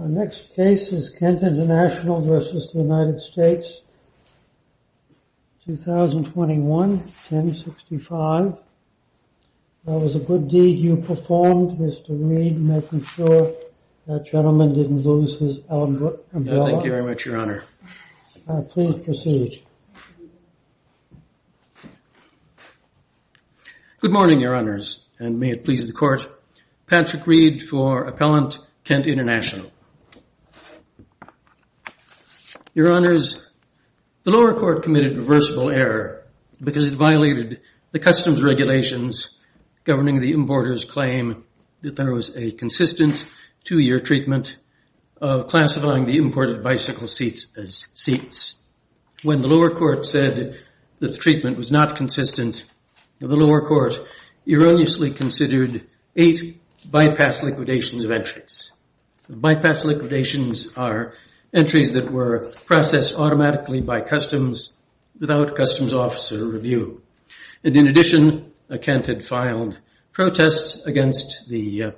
v. United States of America v. United States of America v. United States of America Our next case is Kent International v. United States, 2021-1065. That was a good deed you performed, Mr. Reed, making sure that gentleman didn't lose his umbrella. Thank you very much, Your Honor. Please proceed. Good morning, Your Honors, and may it please the Court. Patrick Reed for Appellant Kent International. Your Honors, the lower court committed reversible error because it violated the customs regulations governing the importer's claim that there was a consistent two-year treatment of classifying the imported bicycle seats as seats. When the lower court said that the treatment was not consistent, the lower court erroneously considered eight bypass liquidations of entries. Bypass liquidations are entries that were processed automatically by customs without customs officer review. And in addition, Kent had filed protests against the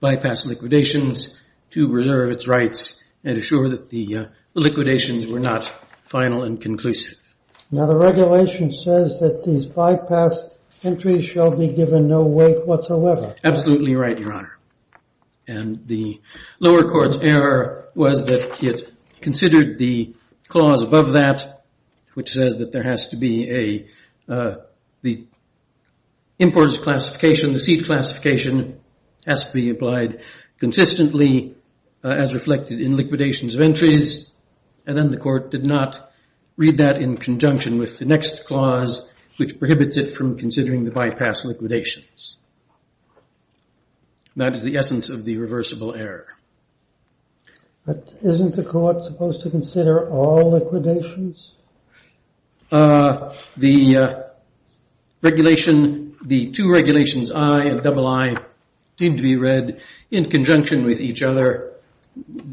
bypass liquidations to reserve its rights and assure that the liquidations were not final and conclusive. Now, the regulation says that these bypass entries shall be given no weight whatsoever. Absolutely right, Your Honor. And the lower court's error was that it considered the clause above that, which says that there has to be an importer's classification, the seat classification has to be applied consistently as reflected in liquidations of entries. And then the court did not read that in conjunction with the next clause, which prohibits it from considering the bypass liquidations. That is the essence of the reversible error. But isn't the court supposed to consider all liquidations? The regulation, the two regulations, I and double I, seem to be read in conjunction with each other.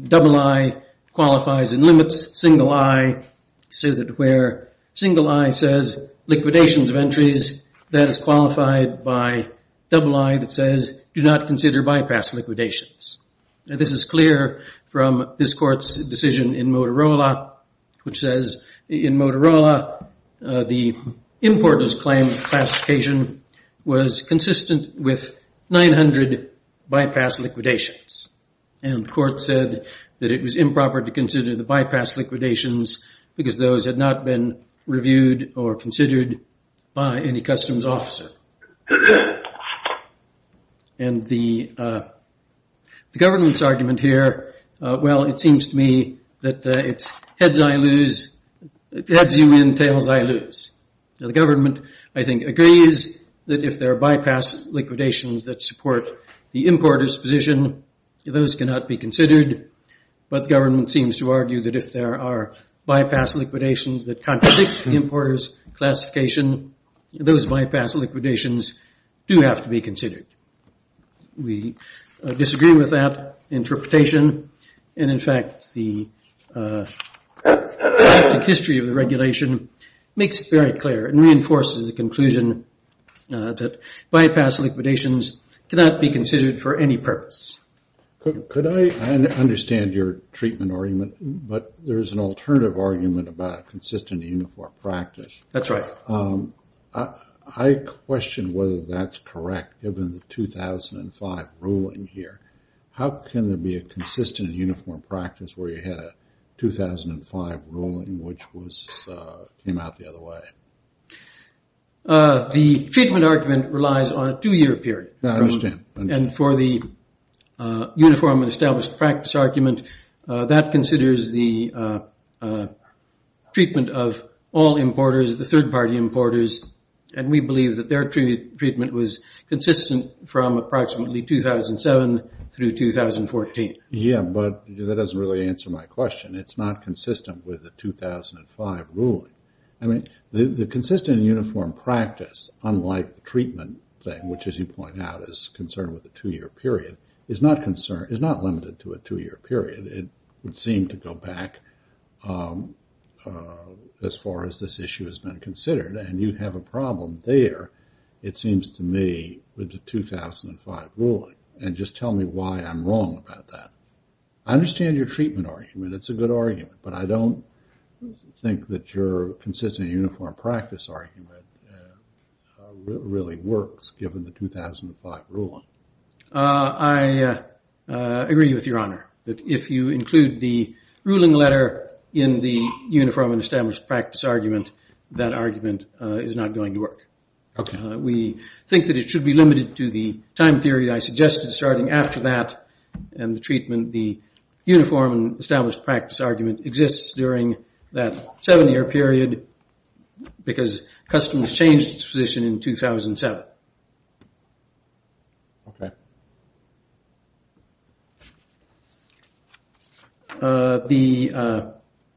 Double I qualifies in limits. Single I says that where single I says liquidations of entries, that is qualified by double I that says do not consider bypass liquidations. Now, this is clear from this court's decision in Motorola, which says in Motorola, the importer's claim classification was consistent with 900 bypass liquidations. And the court said that it was improper to consider the bypass liquidations because those had not been reviewed or considered by any customs officer. And the government's argument here, well, it seems to me that it's heads you win, tails I lose. The government, I think, agrees that if there are bypass liquidations that support the importer's position, those cannot be considered. But the government seems to argue that if there are bypass liquidations that contradict the importer's classification, those bypass liquidations do have to be considered. We disagree with that interpretation. And, in fact, the history of the regulation makes it very clear and reinforces the conclusion that bypass liquidations cannot be considered for any purpose. Could I understand your treatment argument? But there is an alternative argument about consistent uniform practice. That's right. I question whether that's correct given the 2005 ruling here. How can there be a consistent uniform practice where you had a 2005 ruling which came out the other way? The treatment argument relies on a two-year period. I understand. And for the uniform and established practice argument, that considers the treatment of all importers, the third-party importers, and we believe that their treatment was consistent from approximately 2007 through 2014. Yeah, but that doesn't really answer my question. It's not consistent with the 2005 ruling. I mean, the consistent uniform practice, unlike the treatment thing, which, as you point out, is concerned with a two-year period, is not limited to a two-year period. It would seem to go back as far as this issue has been considered. And you have a problem there, it seems to me, with the 2005 ruling. And just tell me why I'm wrong about that. I understand your treatment argument. It's a good argument, but I don't think that your consistent uniform practice argument really works, given the 2005 ruling. I agree with Your Honor, that if you include the ruling letter in the uniform and established practice argument, that argument is not going to work. We think that it should be limited to the time period I suggested starting after that and the treatment, the uniform and established practice argument, exists during that seven-year period, because customs changed its position in 2007. Okay. The,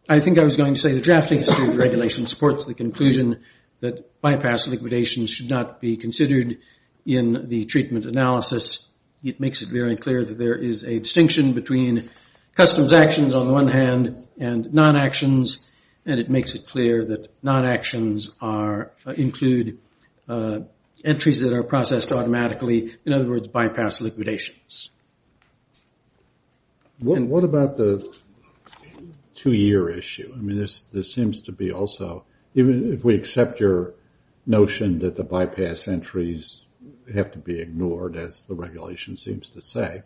I think I was going to say, the drafting of the regulation supports the conclusion that bypass liquidation should not be considered in the treatment analysis. It makes it very clear that there is a distinction between customs actions on the one hand and non-actions, and it makes it clear that non-actions include entries that are processed automatically, in other words, bypass liquidations. And what about the two-year issue? I mean, this seems to be also, even if we accept your notion that the bypass entries have to be ignored, as the regulation seems to say,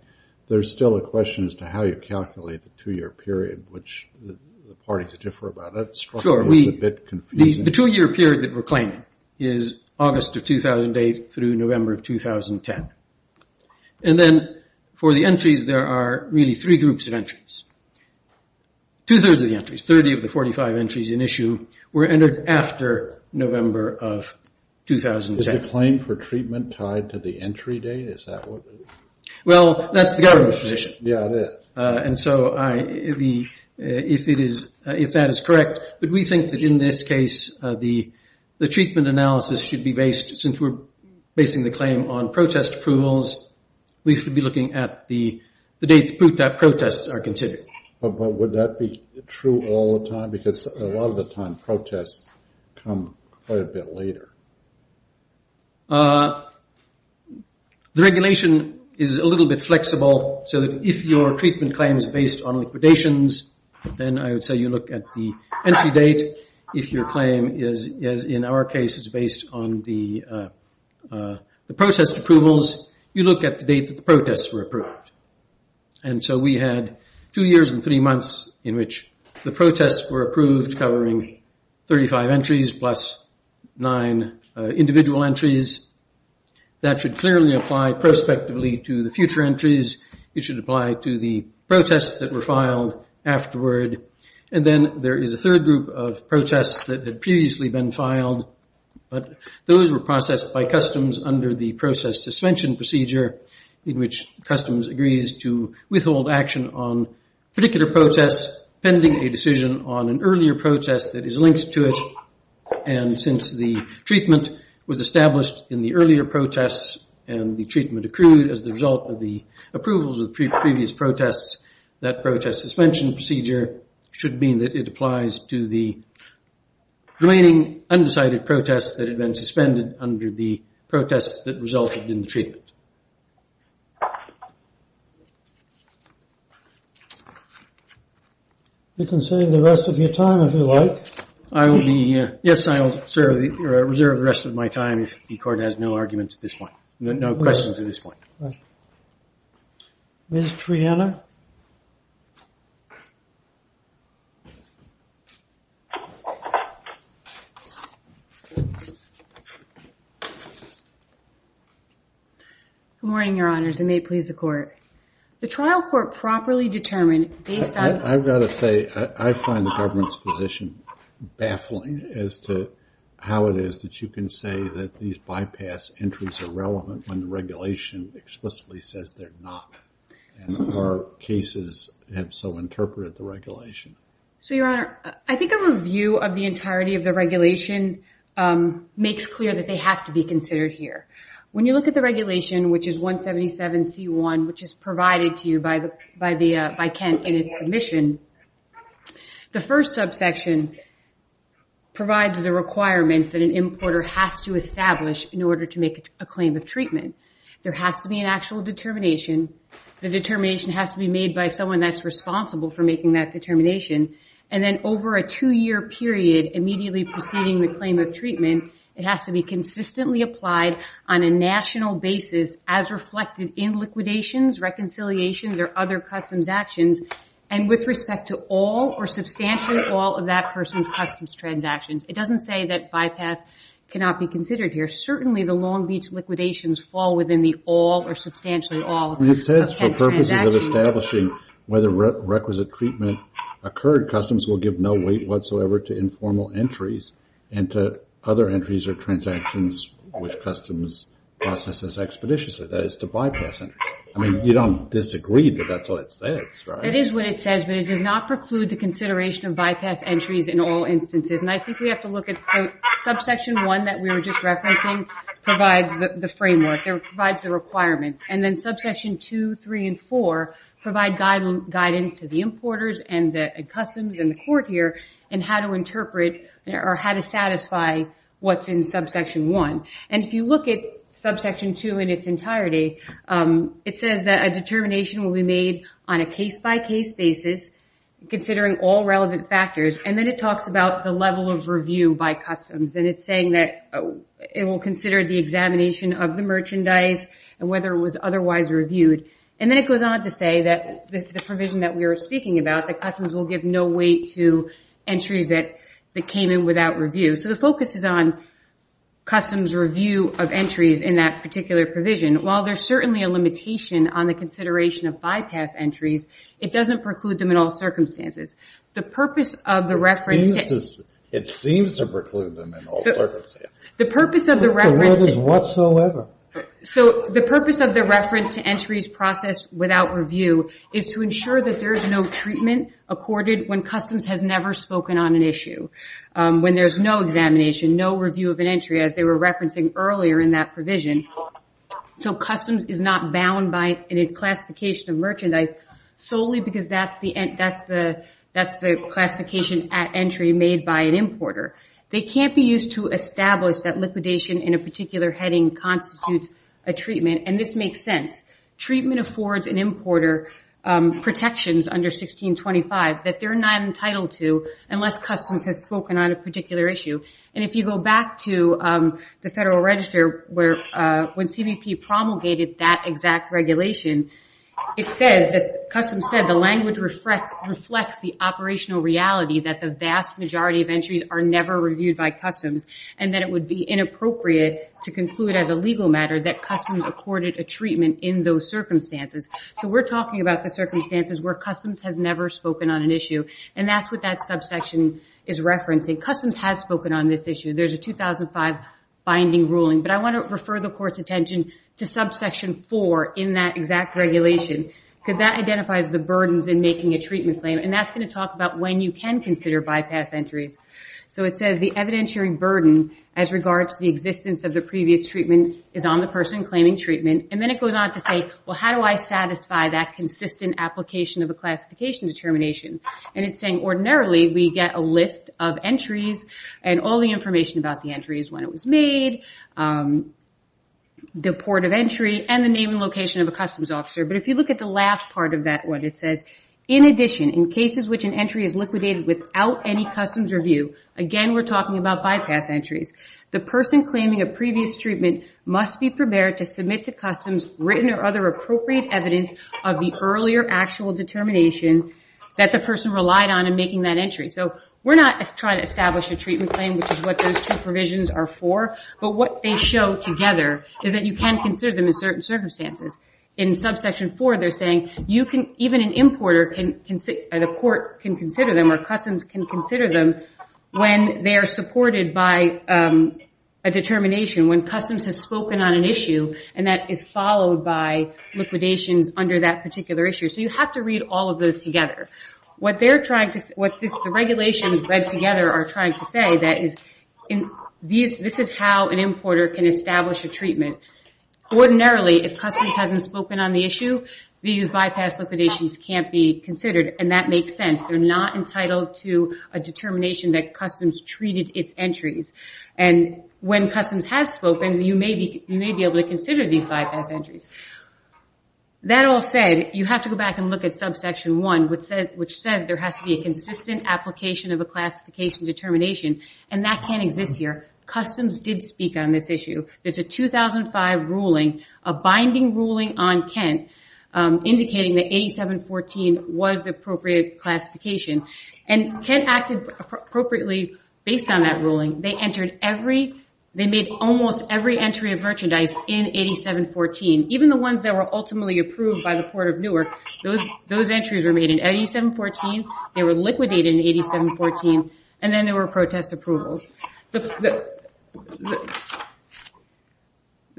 there's still a question as to how you calculate the two-year period, which the parties differ about. Sure. The two-year period that we're claiming is August of 2008 through November of 2010. And then for the entries, there are really three groups of entries. Two-thirds of the entries, 30 of the 45 entries in issue, were entered after November of 2010. Is the claim for treatment tied to the entry date? Is that what it is? Well, that's the government's position. Yeah, it is. And so if that is correct, but we think that in this case the treatment analysis should be based, since we're basing the claim on protest approvals, we should be looking at the date that protests are considered. But would that be true all the time? Because a lot of the time protests come quite a bit later. The regulation is a little bit flexible, so that if your treatment claim is based on liquidations, then I would say you look at the entry date. If your claim is, in our case, based on the protest approvals, you look at the date that the protests were approved. And so we had two years and three months in which the protests were approved, covering 35 entries plus nine individual entries. That should clearly apply prospectively to the future entries. It should apply to the protests that were filed afterward. And then there is a third group of protests that had previously been filed, but those were processed by customs under the process suspension procedure, in which customs agrees to withhold action on particular protests pending a decision on an earlier protest that is linked to it. And since the treatment was established in the earlier protests and the treatment accrued as the result of the approvals of the previous protests, that protest suspension procedure should mean that it applies to the remaining undecided protests that had been suspended under the protests that resulted in the treatment. You can save the rest of your time if you like. Yes, I will reserve the rest of my time if the court has no arguments at this point, no questions at this point. Ms. Triana? Good morning, Your Honors, and may it please the court. The trial court properly determined based on... I've got to say, I find the government's position baffling as to how it is that you can say that these bypass entries are relevant when the regulation explicitly says they're not, and our cases have so interpreted the regulation. So, Your Honor, I think a review of the entirety of the regulation makes clear that they have to be considered here. When you look at the regulation, which is 177C1, which is provided to you by Kent in its submission, the first subsection provides the requirements that an importer has to establish in order to make a claim of treatment. There has to be an actual determination. The determination has to be made by someone that's responsible for making that determination. And then over a two-year period, immediately preceding the claim of treatment, it has to be consistently applied on a national basis as reflected in liquidations, reconciliations, or other customs actions, and with respect to all or substantially all of that person's customs transactions. It doesn't say that bypass cannot be considered here. Certainly, the Long Beach liquidations fall within the all or substantially all... It says for purposes of establishing whether requisite treatment occurs and third, customs will give no weight whatsoever to informal entries and to other entries or transactions which customs process expeditiously. That is, to bypass entries. I mean, you don't disagree that that's what it says, right? It is what it says, but it does not preclude the consideration of bypass entries in all instances. And I think we have to look at... Subsection 1 that we were just referencing provides the framework. It provides the requirements. And then subsection 2, 3, and 4 provide guidance to the importers and the customs and the court here in how to interpret or how to satisfy what's in subsection 1. And if you look at subsection 2 in its entirety, it says that a determination will be made on a case-by-case basis considering all relevant factors. And then it talks about the level of review by customs. And it's saying that it will consider the examination of the merchandise and whether it was otherwise reviewed. And then it goes on to say that the provision that we were speaking about, that customs will give no weight to entries that came in without review. So the focus is on customs' review of entries in that particular provision. While there's certainly a limitation on the consideration of bypass entries, it doesn't preclude them in all circumstances. The purpose of the reference... It seems to preclude them in all circumstances. The purpose of the reference... It doesn't whatsoever. So the purpose of the reference to entries processed without review is to ensure that there is no treatment accorded when customs has never spoken on an issue, when there's no examination, no review of an entry, as they were referencing earlier in that provision. So customs is not bound by any classification of merchandise solely because that's the classification at entry made by an importer. They can't be used to establish that liquidation in a particular heading constitutes a treatment. And this makes sense. Treatment affords an importer protections under 1625 that they're not entitled to unless customs has spoken on a particular issue. And if you go back to the Federal Register, when CBP promulgated that exact regulation, it says that customs said the language reflects the operational reality that the vast majority of entries are never reviewed by customs and that it would be inappropriate to conclude as a legal matter that customs accorded a treatment in those circumstances. So we're talking about the circumstances where customs has never spoken on an issue, and that's what that subsection is referencing. Customs has spoken on this issue. There's a 2005 binding ruling, but I want to refer the Court's attention to subsection 4 in that exact regulation because that identifies the burdens in making a treatment claim, and that's going to talk about when you can consider bypass entries. So it says the evidentiary burden as regards to the existence of the previous treatment is on the person claiming treatment. And then it goes on to say, well, how do I satisfy that consistent application of a classification determination? And it's saying ordinarily we get a list of entries and all the information about the entries, when it was made, the port of entry, and the name and location of a customs officer. But if you look at the last part of that one, it says, in addition, in cases which an entry is liquidated without any customs review, again, we're talking about bypass entries, the person claiming a previous treatment must be prepared to submit to customs written or other appropriate evidence of the earlier actual determination that the person relied on in making that entry. So we're not trying to establish a treatment claim, which is what those two provisions are for, but what they show together is that you can consider them in certain circumstances. In subsection 4, they're saying even an importer or the court can consider them or customs can consider them when they are supported by a determination, when customs has spoken on an issue and that is followed by liquidations under that particular issue. So you have to read all of those together. What the regulations read together are trying to say that this is how an importer can establish a treatment. Ordinarily, if customs hasn't spoken on the issue, these bypass liquidations can't be considered, and that makes sense. They're not entitled to a determination that customs treated its entries. And when customs has spoken, you may be able to consider these bypass entries. That all said, you have to go back and look at subsection 1, which says there has to be a consistent application of a classification determination, and that can't exist here. Customs did speak on this issue. There's a 2005 ruling, a binding ruling on Kent, indicating that 8714 was the appropriate classification. And Kent acted appropriately based on that ruling. They made almost every entry of merchandise in 8714. Even the ones that were ultimately approved by the Port of Newark, those entries were made in 8714, they were liquidated in 8714, and then there were protest approvals. The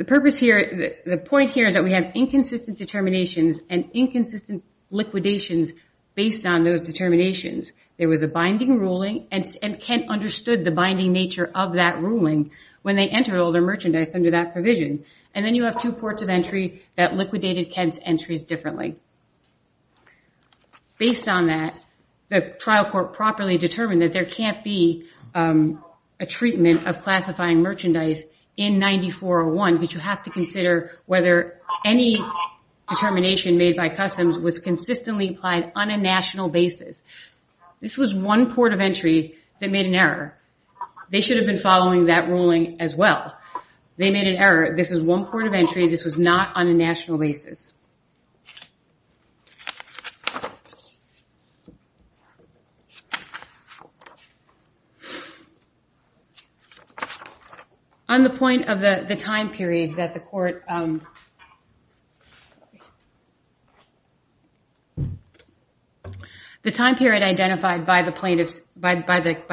purpose here, the point here, is that we have inconsistent determinations and inconsistent liquidations based on those determinations. There was a binding ruling, and Kent understood the binding nature of that ruling when they entered all their merchandise under that provision. And then you have two ports of entry that liquidated Kent's entries differently. Based on that, the trial court properly determined that there can't be a treatment of classifying merchandise in 9401 because you have to consider whether any determination made by Customs was consistently applied on a national basis. This was one port of entry that made an error. They should have been following that ruling as well. They made an error. This is one port of entry. This was not on a national basis. On the point of the time period that the court... The time period identified by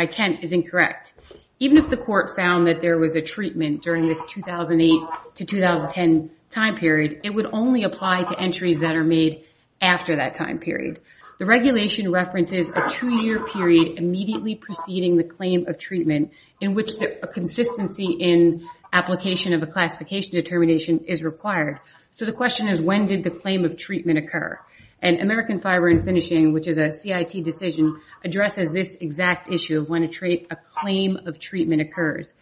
Kent is incorrect. Even if the court found that there was a treatment during this 2008 to 2010 time period, it would only apply to entries that are made after that time period. The regulation references a two-year period immediately preceding the claim of treatment in which a consistency in application of a classification determination is required. So the question is when did the claim of treatment occur? And American Fiber and Finishing, which is a CIT decision, addresses this exact issue of when a claim of treatment occurs.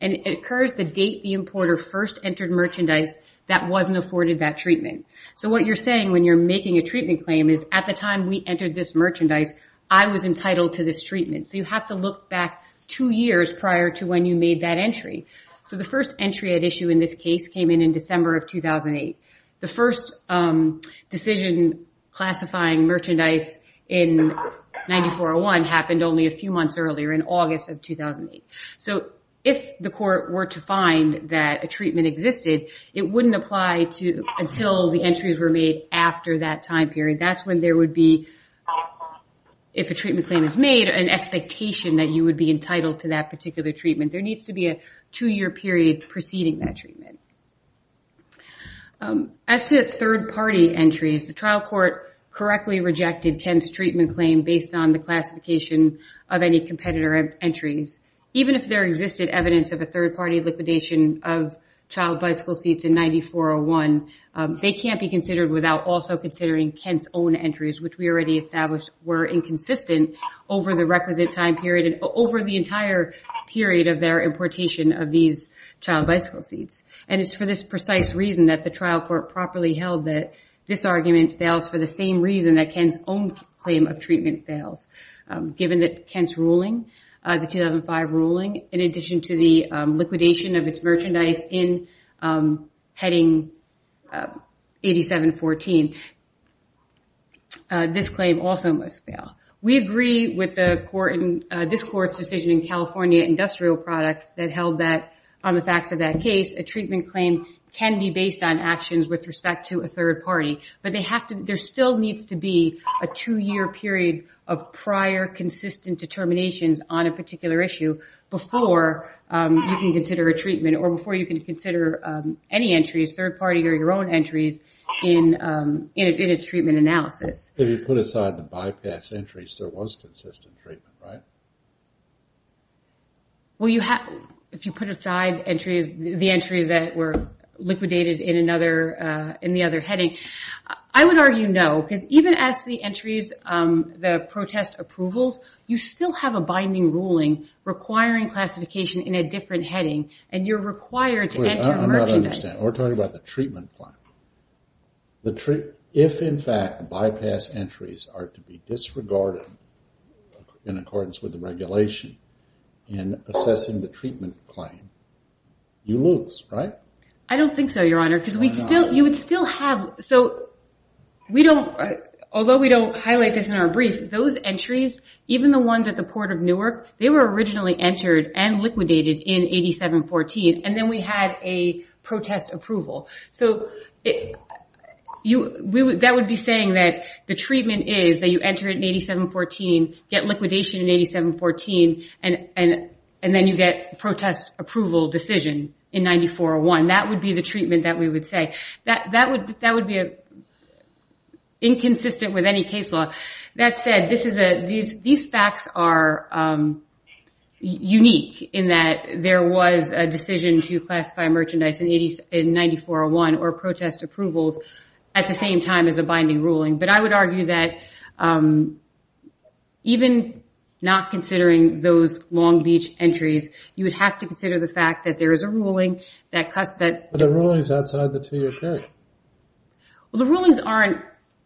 It occurs the date the importer first entered merchandise that wasn't afforded that treatment. So what you're saying when you're making a treatment claim is at the time we entered this merchandise, I was entitled to this treatment. So you have to look back two years prior to when you made that entry. So the first entry at issue in this case came in in December of 2008. The first decision classifying merchandise in 9401 happened only a few months earlier in August of 2008. So if the court were to find that a treatment existed, it wouldn't apply until the entries were made after that time period. That's when there would be, if a treatment claim is made, an expectation that you would be entitled to that particular treatment. There needs to be a two-year period preceding that treatment. As to third-party entries, the trial court correctly rejected Kent's treatment claim based on the classification of any competitor entries. Even if there existed evidence of a third-party liquidation of child bicycle seats in 9401, they can't be considered without also considering Kent's own entries, which we already established were inconsistent over the requisite time period and over the entire period of their importation of these child bicycle seats. And it's for this precise reason that the trial court properly held that this argument fails for the same reason that Kent's own claim of treatment fails. Given that Kent's ruling, the 2005 ruling, in addition to the liquidation of its merchandise in heading 8714, this claim also must fail. We agree with this court's decision in California Industrial Products that held that, on the facts of that case, a treatment claim can be based on actions with respect to a third party. But there still needs to be a two-year period of prior consistent determinations on a particular issue before you can consider a treatment or before you can consider any entries, third party or your own entries, in a treatment analysis. If you put aside the bypass entries, there was consistent treatment, right? Well, if you put aside the entries that were liquidated in the other heading, I would argue no, because even as the entries, the protest approvals, you still have a binding ruling requiring classification in a different heading, and you're required to enter merchandise. I'm not understanding. We're talking about the treatment claim. If, in fact, the bypass entries are to be disregarded in accordance with the regulation in assessing the treatment claim, you lose, right? I don't think so, Your Honor, because you would still have... So, although we don't highlight this in our brief, those entries, even the ones at the Port of Newark, they were originally entered and liquidated in 8714, and then we had a protest approval. So, that would be saying that the treatment is that you enter it in 8714, get liquidation in 8714, and then you get protest approval decision in 9401. That would be the treatment that we would say. That would be inconsistent with any case law. That said, these facts are unique in that there was a decision to classify merchandise in 9401 or protest approvals at the same time as a binding ruling, but I would argue that even not considering those Long Beach entries, you would have to consider the fact that there is a ruling that... But the ruling is outside the two-year period. Well, the rulings aren't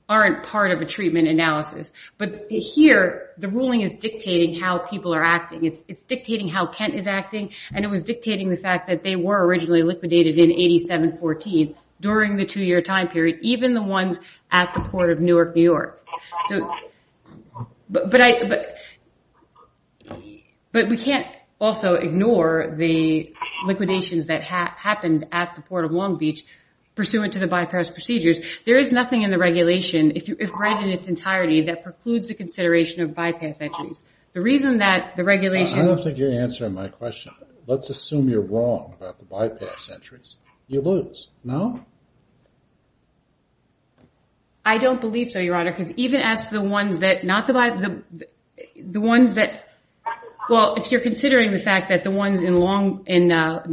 part of a treatment analysis, but here, the ruling is dictating how people are acting. It's dictating how Kent is acting, and it was dictating the fact that they were originally liquidated in 8714 during the two-year time period, even the ones at the Port of Newark, New York. But we can't also ignore the liquidations that happened at the Port of Long Beach pursuant to the bypass procedures. There is nothing in the regulation, if right in its entirety, that precludes the consideration of bypass entries. The reason that the regulation... I don't think you're answering my question. Let's assume you're wrong about the bypass entries. You lose. No? I don't believe so, Your Honor, because even as to the ones that... Well, if you're considering the fact that the ones in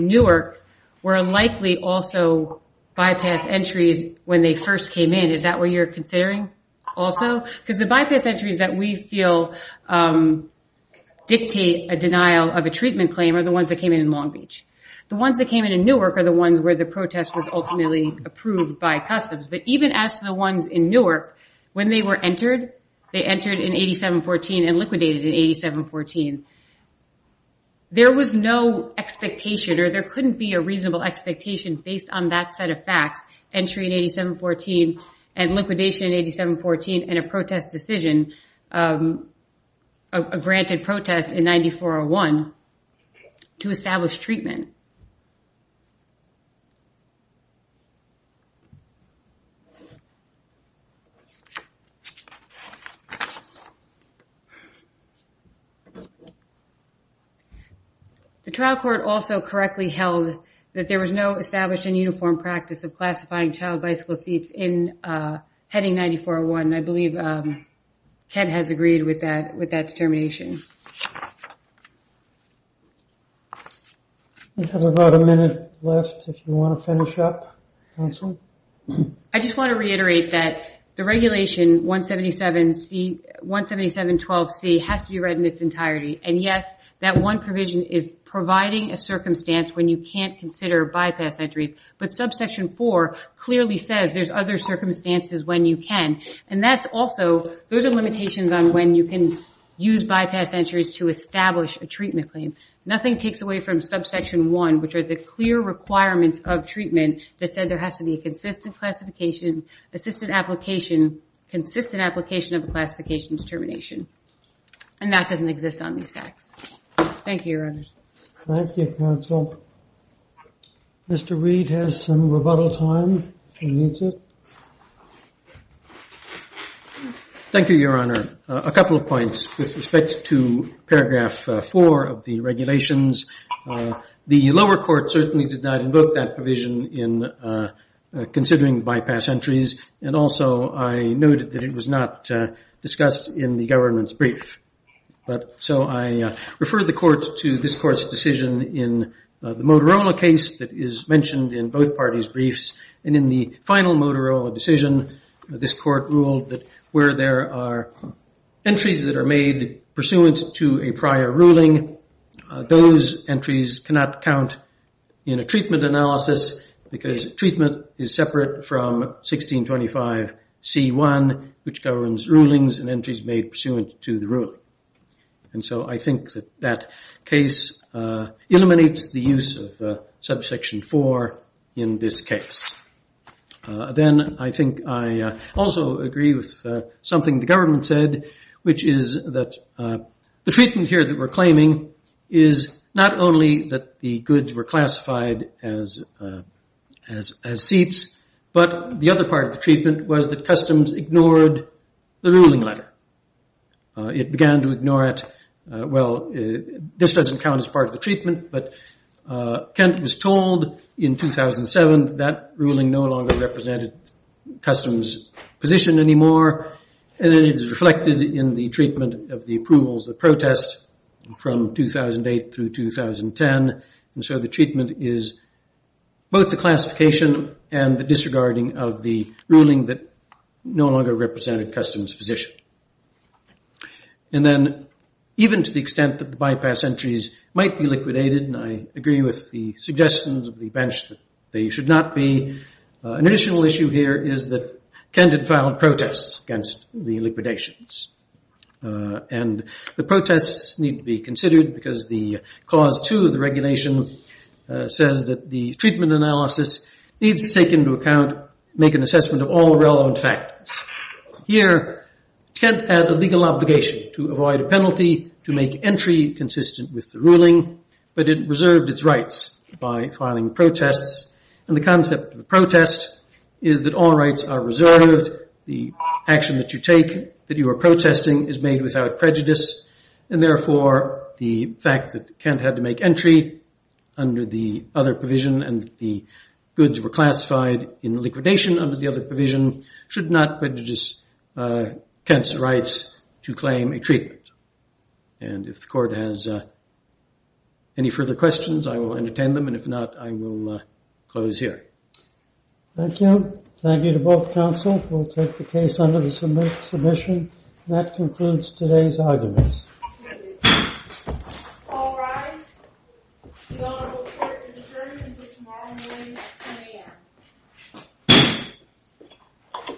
Newark were unlikely also bypass entries when they first came in, is that what you're considering also? Because the bypass entries that we feel dictate a denial of a treatment claim are the ones that came in in Long Beach. The ones that came in in Newark are the ones where the protest was ultimately approved by customs. But even as to the ones in Newark, when they were entered, they entered in 8714 and liquidated in 8714. There was no expectation or there couldn't be a reasonable expectation based on that set of facts, entry in 8714 and liquidation in 8714 and a protest decision, a granted protest in 9401 to establish treatment. The trial court also correctly held that there was no established and uniform practice of classifying child bicycle seats in heading 9401. I believe Ken has agreed with that determination. We have about a minute left if you want to finish up, counsel. I just want to reiterate that the regulation 17712C has to be read in its entirety. And yes, that one provision is providing a circumstance when you can't consider bypass entries. But subsection 4 clearly says there's other circumstances when you can. And that's also, those are limitations on when you can use bypass entries to establish a treatment claim. Nothing takes away from subsection 1, which are the clear requirements of treatment that said there has to be a consistent classification, assistant application, consistent application of a classification determination. And that doesn't exist on these facts. Thank you, Your Honor. Thank you, counsel. Mr. Reed has some rebuttal time if he needs it. Thank you, Your Honor. A couple of points with respect to paragraph 4 of the regulations. The lower court certainly did not invoke that provision in considering bypass entries. And also I noted that it was not discussed in the government's brief. So I refer the court to this court's decision in the Motorola case that is mentioned in both parties' briefs. And in the final Motorola decision, this court ruled that where there are entries that are made pursuant to a prior ruling, those entries cannot count in a treatment analysis because treatment is separate from 1625C1, which governs rulings and entries made pursuant to the ruling. And so I think that that case eliminates the use of subsection 4 in this case. Then I think I also agree with something the government said, which is that the treatment here that we're claiming is not only that the goods were classified as seats, but the other part of the treatment was that customs ignored the ruling letter. It began to ignore it. Well, this doesn't count as part of the treatment, but Kent was told in 2007 that that ruling no longer represented customs position anymore. And then it is reflected in the treatment of the approvals, the protest, from 2008 through 2010. And so the treatment is both the classification and the disregarding of the ruling that no longer represented customs position. And then even to the extent that the bypass entries might be liquidated, and I agree with the suggestions of the bench that they should not be, an additional issue here is that Kent had filed protests against the liquidations. And the protests need to be considered because the cause to the regulation says that the treatment analysis needs to take into account, make an assessment of all the relevant factors. Here, Kent had a legal obligation to avoid a penalty to make entry consistent with the ruling, but it reserved its rights by filing protests. And the concept of a protest is that all rights are reserved, the action that you take, that you are protesting is made without prejudice, and therefore the fact that Kent had to make entry under the other provision and the goods were classified in liquidation under the other provision should not prejudice Kent's rights to claim a treatment. And if the court has any further questions, I will entertain them, and if not, I will close here. Thank you. Thank you to both counsel. We'll take the case under the submission. And that concludes today's arguments. All rise. The Honorable Court has adjourned until tomorrow morning at 10 a.m.